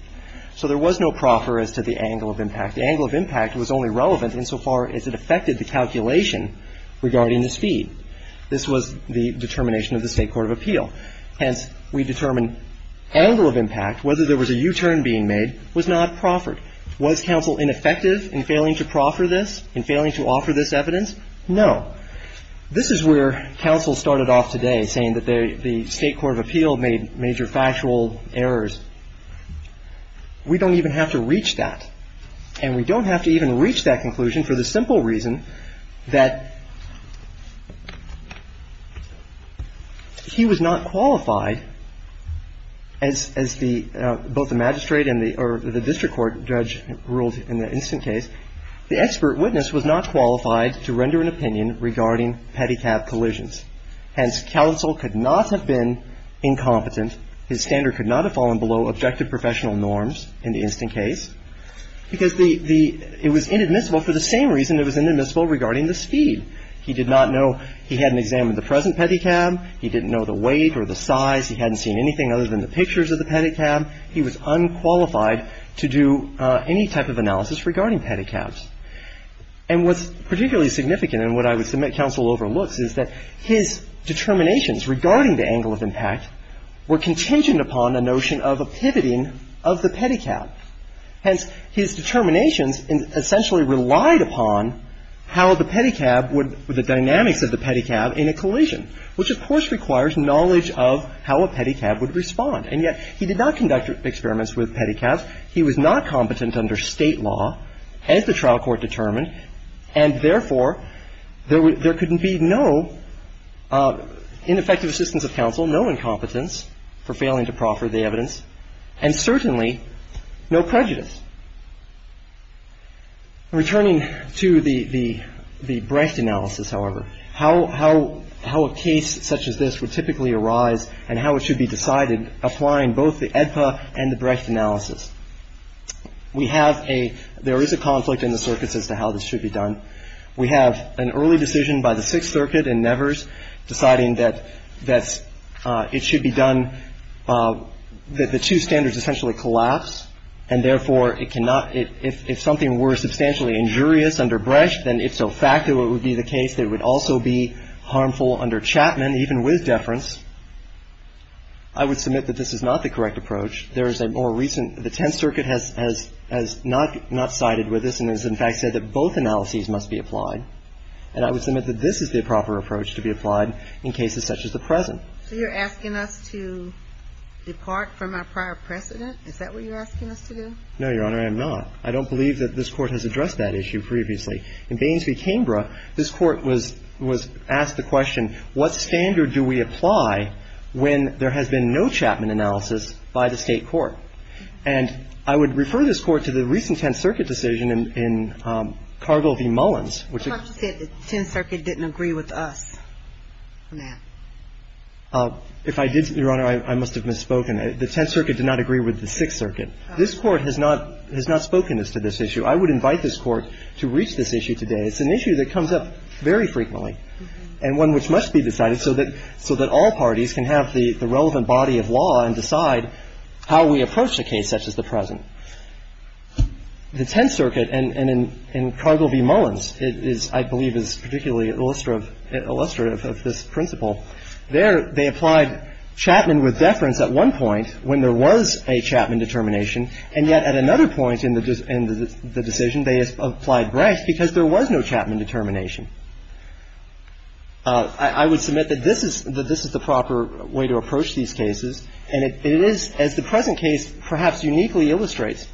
So there was no proffer as to the angle of impact. The angle of impact was only relevant insofar as it affected the calculation regarding the speed. This was the determination of the State court of appeal. Hence, we determine angle of impact, whether there was a U-turn being made, was not proffered. Was counsel ineffective in failing to proffer this, in failing to offer this evidence? No. This is where counsel started off today, saying that the State court of appeal made major factual errors. We don't even have to reach that. And we don't have to even reach that conclusion for the simple reason that he was not qualified, as the – both the magistrate and the – or the district court judge ruled in the instant case. The expert witness was not qualified to render an opinion regarding pedicab collisions. Hence, counsel could not have been incompetent. His standard could not have fallen below objective professional norms in the instant case because the – it was inadmissible for the same reason it was inadmissible regarding the speed. He did not know – he hadn't examined the present pedicab. He didn't know the weight or the size. He hadn't seen anything other than the pictures of the pedicab. He was unqualified to do any type of analysis regarding pedicabs. And what's particularly significant, and what I would submit counsel overlooks, is that his determinations regarding the angle of impact were contingent upon a notion of a pivoting of the pedicab. Hence, his determinations essentially relied upon how the pedicab would – the dynamics of the pedicab in a collision, which, of course, requires knowledge of how a pedicab would respond. And yet, he did not conduct experiments with pedicabs. He was not competent under State law, as the trial court determined. And therefore, there could be no ineffective assistance of counsel, no incompetence for failing to proffer the evidence, and certainly no prejudice. Returning to the Brecht analysis, however, how a case such as this would typically arise and how it should be decided applying both the AEDPA and the Brecht analysis. We have a – there is a conflict in the circuits as to how this should be done. We have an early decision by the Sixth Circuit in Nevers deciding that it should be done – that the two standards essentially collapse, and therefore, it cannot – if something were substantially injurious under Brecht, then if so facto it would be the case that it would also be harmful under Chapman, even with deference. I would submit that this is not the correct approach. There is a more recent – the Tenth Circuit has not sided with this and has in fact said that both analyses must be applied. And I would submit that this is the proper approach to be applied in cases such as the present. So you're asking us to depart from our prior precedent? Is that what you're asking us to do? No, Your Honor, I am not. I don't believe that this Court has addressed that issue previously. And I would refer this Court to the recent Tenth Circuit decision in Cargill v. Mullins, which – I thought you said the Tenth Circuit didn't agree with us on that. If I did, Your Honor, I must have misspoken. The Tenth Circuit did not agree with the Sixth Circuit. This Court has not – has not spoken as to this issue. I would invite this Court to reach this issue today. It's an issue that comes up very frequently and one which must be addressed. The Tenth Circuit, and in Cargill v. Mullins, is – I believe is particularly illustrative of this principle. There, they applied Chapman with deference at one point when there was a Chapman determination, and yet at another point in the decision, they applied Brecht because there was no Chapman determination. I would submit that this is – that this is the proper way to approach these cases, and it is, as the present case perhaps uniquely illustrates,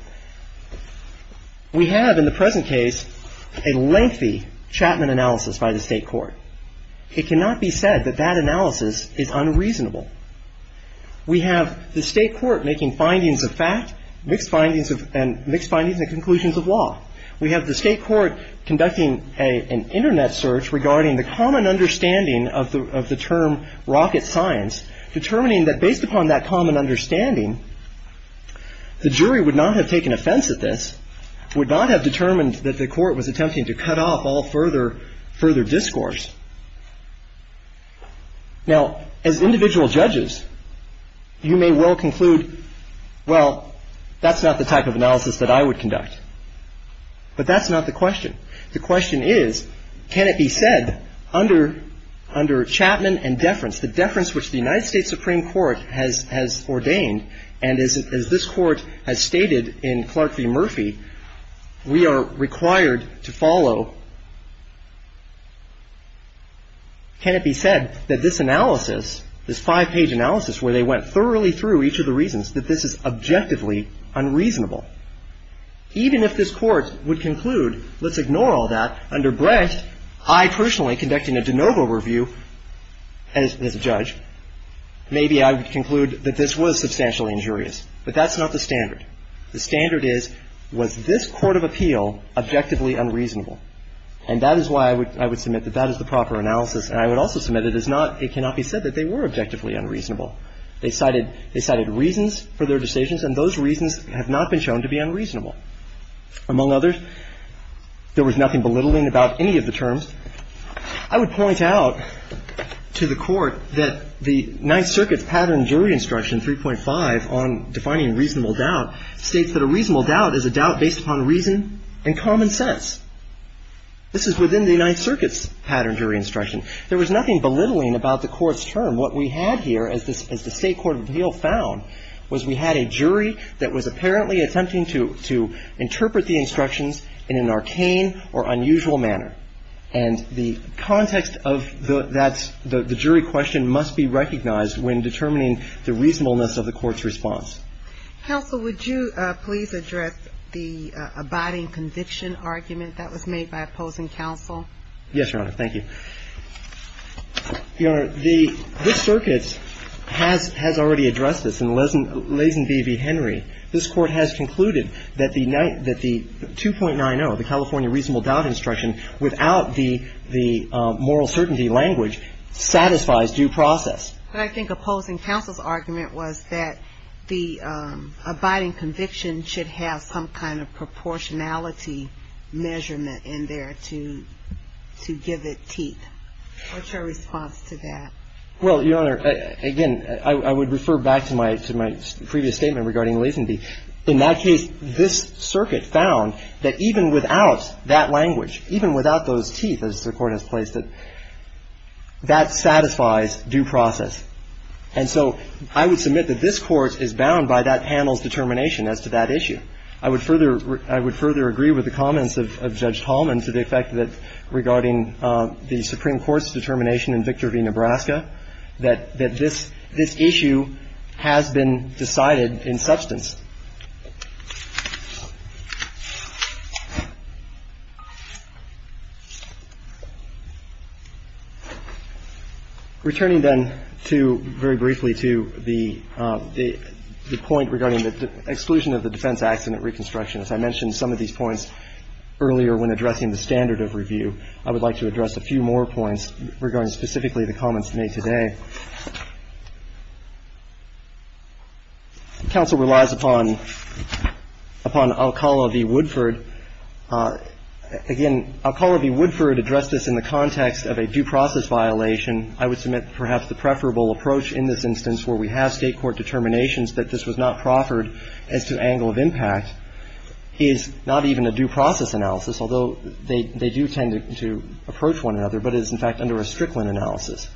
we have in the present case a lengthy Chapman analysis by the State court. It cannot be said that that analysis is unreasonable. We have the State court making findings of fact, mixed findings of – and mixed findings and conclusions of law. We have the State court conducting an Internet search regarding the common understanding of the term rocket science, determining that based upon that common understanding, the jury would not have taken offense at this, would not have determined that the court was attempting to cut off all further – further discourse. Now, as individual judges, you may well conclude, well, that's not the type of analysis that I would conduct. But that's not the question. The question is, can it be said under – under Chapman and deference, the deference which the United States Supreme Court has – has ordained, and as this court has stated in Clark v. Murphy, we are required to follow. Can it be said that this analysis, this five-page analysis where they went thoroughly through each of the reasons, that this is objectively unreasonable? Even if this Court would conclude, let's ignore all that. Under Brett, I personally, conducting a de novo review as – as a judge, maybe I would conclude that this was substantially injurious. But that's not the standard. The standard is, was this court of appeal objectively unreasonable? And that is why I would – I would submit that that is the proper analysis. And I would also submit it is not – it cannot be said that they were objectively unreasonable. They cited – they cited reasons for their decisions, and those reasons have not been shown to be unreasonable. Among others, there was nothing belittling about any of the terms. I would point out to the Court that the Ninth Circuit's pattern jury instruction, 3.5, on defining reasonable doubt, states that a reasonable doubt is a doubt based upon reason and common sense. This is within the Ninth Circuit's pattern jury instruction. There was nothing belittling about the Court's term. What we had here, as the State court of appeal found, was we had a jury that was apparently attempting to – to interpret the instructions in an arcane or unusual manner. And the context of that – the jury question must be recognized when determining the reasonableness of the Court's response. Counsel, would you please address the abiding conviction argument that was made by opposing counsel? Yes, Your Honor. Thank you. Your Honor, the – this circuit has – has already addressed this. In Leysen v. Henry, this Court has concluded that the – that the 2.90, the California reasonable doubt instruction, without the – the moral certainty language, satisfies due process. But I think opposing counsel's argument was that the abiding conviction should have some kind of proportionality measurement in there to – to give it teeth. What's your response to that? Well, Your Honor, again, I would refer back to my – to my previous statement regarding Leysen v. In that case, this circuit found that even without that language, even without those teeth, as the Court has placed it, that satisfies due process. And so I would submit that this Court is bound by that panel's determination as to that issue. I would further – I would further agree with the comments of Judge Tallman to the effect that regarding the Supreme Court's determination in Victor v. Nebraska that – that this – this issue has been decided in substance. Returning then to – very briefly to the – the point regarding the exclusion of the defense acts in the reconstruction, as I mentioned some of these points earlier when addressing the standard of review, I would like to address a few more points regarding specifically the comments made today. Counsel relies upon – upon Alcala v. Woodford. Again, Alcala v. Woodford addressed this in the context of a due process violation. I would submit perhaps the preferable approach in this instance where we have State court determinations that this was not proffered as to angle of impact is not even a due process analysis, although they – they do tend to approach one another, but it is, in fact, under a Strickland analysis.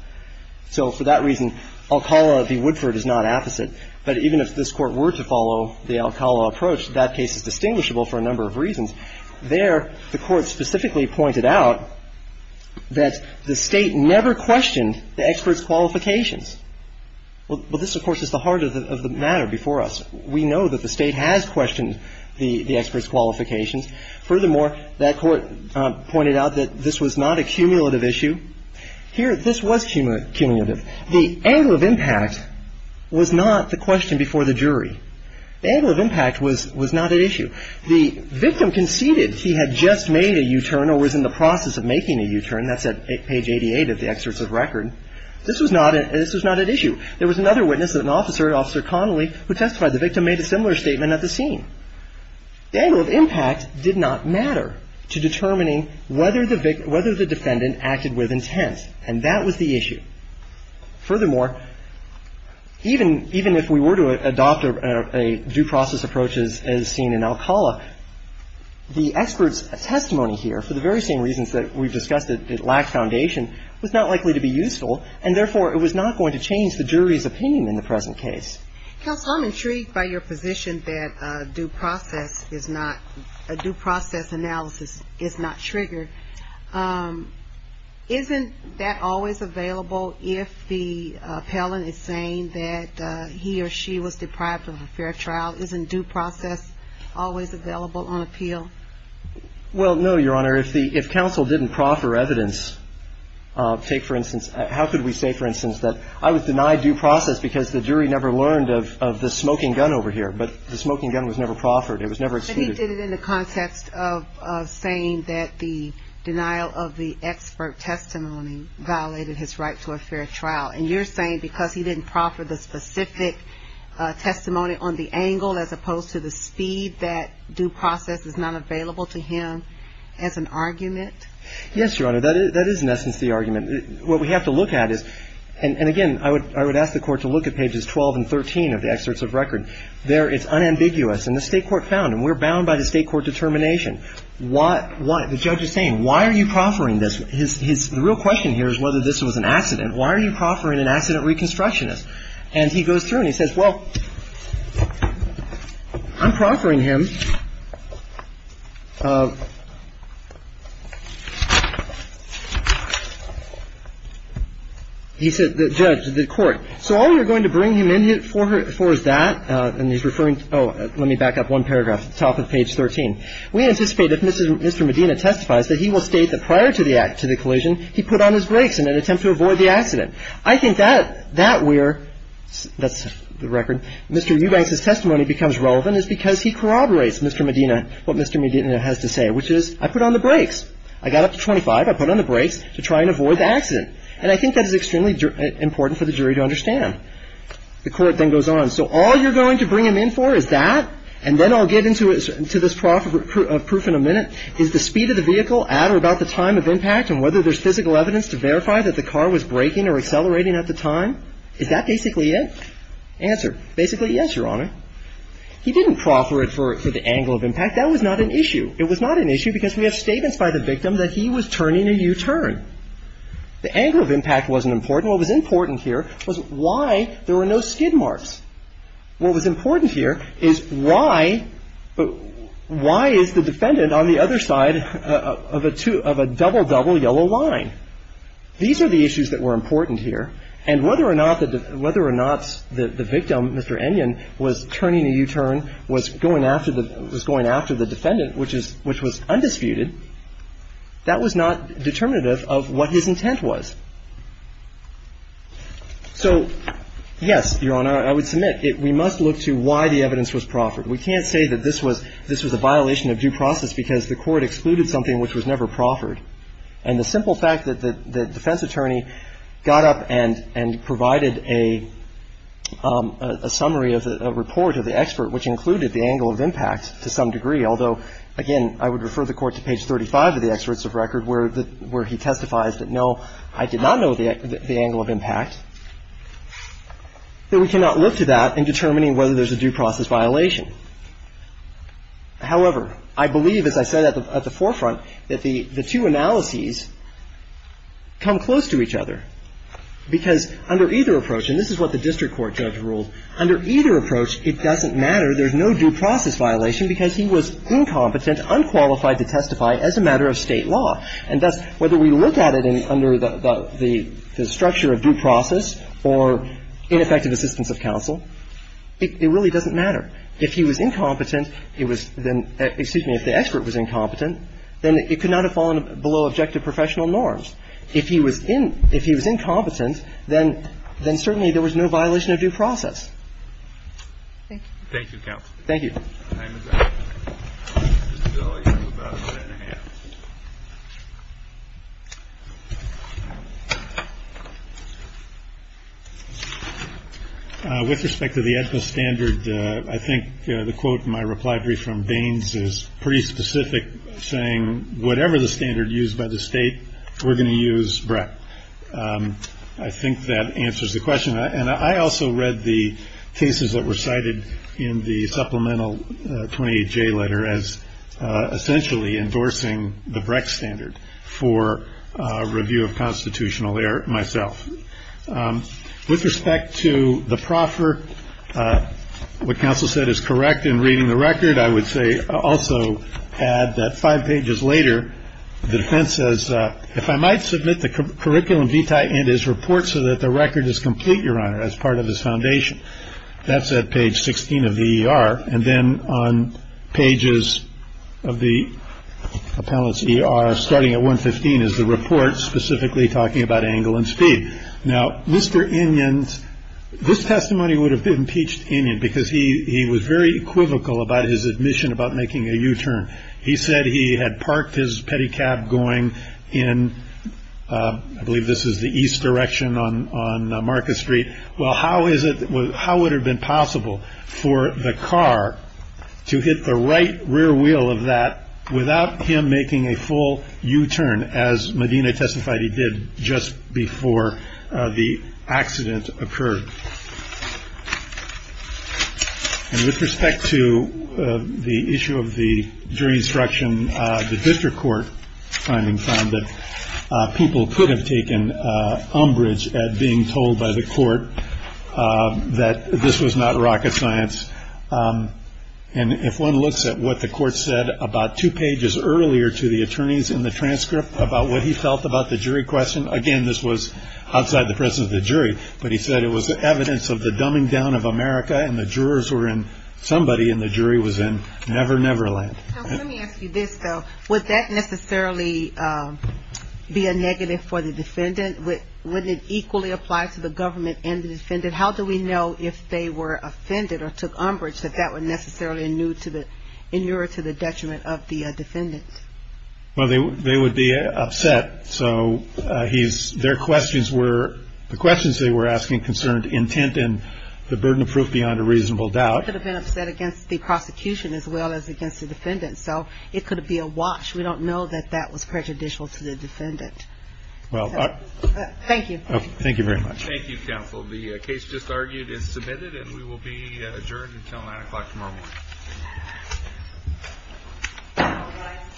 So for that reason, Alcala v. Woodford is not apposite. But even if this Court were to follow the Alcala approach, that case is distinguishable for a number of reasons. There, the Court specifically pointed out that the State never questioned the experts' qualifications. Well, this, of course, is the heart of the – of the matter before us. We know that the State has questioned the – the experts' qualifications. Furthermore, that Court pointed out that this was not a cumulative issue. Here, this was cumulative. The angle of impact was not the question before the jury. The angle of impact was – was not at issue. The victim conceded he had just made a U-turn or was in the process of making a U-turn. That's at page 88 of the excerpts of record. This was not – this was not at issue. There was another witness, an officer, Officer Connolly, who testified. The victim made a similar statement at the scene. The angle of impact did not matter to determining whether the victim – whether the defendant acted with intent, and that was the issue. Furthermore, even – even if we were to adopt a due process approach as seen in Alcala, the experts' testimony here, for the very same reasons that we've discussed, that it lacked foundation, was not likely to be useful, and therefore, it was not going to change the jury's opinion in the present case. Counsel, I'm intrigued by your position that due process is not – due process analysis is not triggered. Isn't that always available if the appellant is saying that he or she was deprived of a fair trial? Isn't due process always available on appeal? Well, no, Your Honor. If the – if counsel didn't proffer evidence, take for instance – how could we say, for instance, that I was denied due process because the jury never learned of the smoking gun over here, but the smoking gun was never proffered. It was never excluded. But he did it in the context of saying that the denial of the expert testimony violated his right to a fair trial. And you're saying because he didn't proffer the specific testimony on the angle as opposed to the speed, that due process is not available to him as an argument? Yes, Your Honor. That is, in essence, the argument. What we have to look at is – and again, I would ask the Court to look at pages 12 and 13 of the excerpts of record. There, it's unambiguous. And the State court found, and we're bound by the State court determination. The judge is saying, why are you proffering this? The real question here is whether this was an accident. Why are you proffering an accident reconstructionist? And he goes through and he says, well, I'm proffering him. He said, the judge, the court. So all you're going to bring him in for is that. And he's referring – oh, let me back up one paragraph. Top of page 13. We anticipate if Mr. Medina testifies that he will state that prior to the act, to the collision, he put on his brakes in an attempt to avoid the accident. I think that where – that's the record. Mr. Eubanks's testimony becomes relevant is because he corroborates Mr. Medina, what Mr. Medina has to say, which is, I put on the brakes. I got up to 25. I put on the brakes to try and avoid the accident. And I think that is extremely important for the jury to understand. The Court then goes on. So all you're going to bring him in for is that. And then I'll get into this proof in a minute, is the speed of the vehicle at or about the time of impact and whether there's physical evidence to verify that the car was braking or accelerating at the time. Is that basically it? Answer. Basically, yes, Your Honor. He didn't proffer it for the angle of impact. That was not an issue. It was not an issue because we have statements by the victim that he was turning a U-turn. The angle of impact wasn't important. What was important here was why there were no skid marks. What was important here is why is the defendant on the other side of a double-double yellow line? These are the issues that were important here. And whether or not the victim, Mr. Enyan, was turning a U-turn, was going after the defendant, which was undisputed, that was not determinative of what his intent was. So, yes, Your Honor, I would submit we must look to why the evidence was proffered. We can't say that this was a violation of due process because the court excluded something which was never proffered. And the simple fact that the defense attorney got up and provided a summary of the report of the expert, which included the angle of impact to some degree, although, again, I would refer the Court to page 35 of the experts of record where he testifies that, no, I did not know the angle of impact, that we cannot look to that in determining whether there's a due process violation. However, I believe, as I said at the forefront, that the two analyses come close to each other, because under either approach, and this is what the district court judge ruled, under either approach, it doesn't matter. There's no due process violation because he was incompetent, unqualified to testify as a matter of State law. And thus, whether we look at it under the structure of due process or ineffective assistance of counsel, it really doesn't matter. If he was incompetent, it was then — excuse me, if the expert was incompetent, then it could not have fallen below objective professional norms. If he was incompetent, then certainly there was no violation of due process. Thank you. Thank you, counsel. Thank you. With respect to the EDPA standard, I think the quote in my reply brief from Baines is pretty specific, saying whatever the standard used by the State, we're going to use Brett. I think that answers the question. And I also read the cases that were cited in the supplemental 28J letter as essentially endorsing the Breck standard for review of constitutional error myself. With respect to the proffer, what counsel said is correct in reading the record, I would say also add that five pages later, the defense says, That's at page 16 of the ER. And then on pages of the appellant's ER, starting at 115 is the report specifically talking about angle and speed. Now, Mr. Indians, this testimony would have been impeached in it because he was very equivocal about his admission about making a U-turn. He said he had parked his pedicab going in. I believe this is the east direction on Marcus Street. Well, how is it? How would have been possible for the car to hit the right rear wheel of that without him making a full U-turn? As Medina testified, he did just before the accident occurred. And with respect to the issue of the jury instruction, the district court finding found that people could have taken umbrage at being told by the court that this was not rocket science. And if one looks at what the court said about two pages earlier to the attorneys in the transcript about what he felt about the jury question, again, this was outside the presence of the jury. But he said it was evidence of the dumbing down of America and the jurors were in somebody and the jury was in Never Never Land. Let me ask you this, though. Would that necessarily be a negative for the defendant? Would it equally apply to the government and the defendant? How do we know if they were offended or took umbrage that that would necessarily inure to the detriment of the defendants? Well, they would be upset. So their questions were the questions they were asking concerned intent and the burden of proof beyond a reasonable doubt. They could have been upset against the prosecution as well as against the defendant. So it could be a watch. We don't know that that was prejudicial to the defendant. Thank you. Thank you very much. Thank you, counsel. The case just argued and submitted, and we will be adjourned until 9 o'clock tomorrow morning.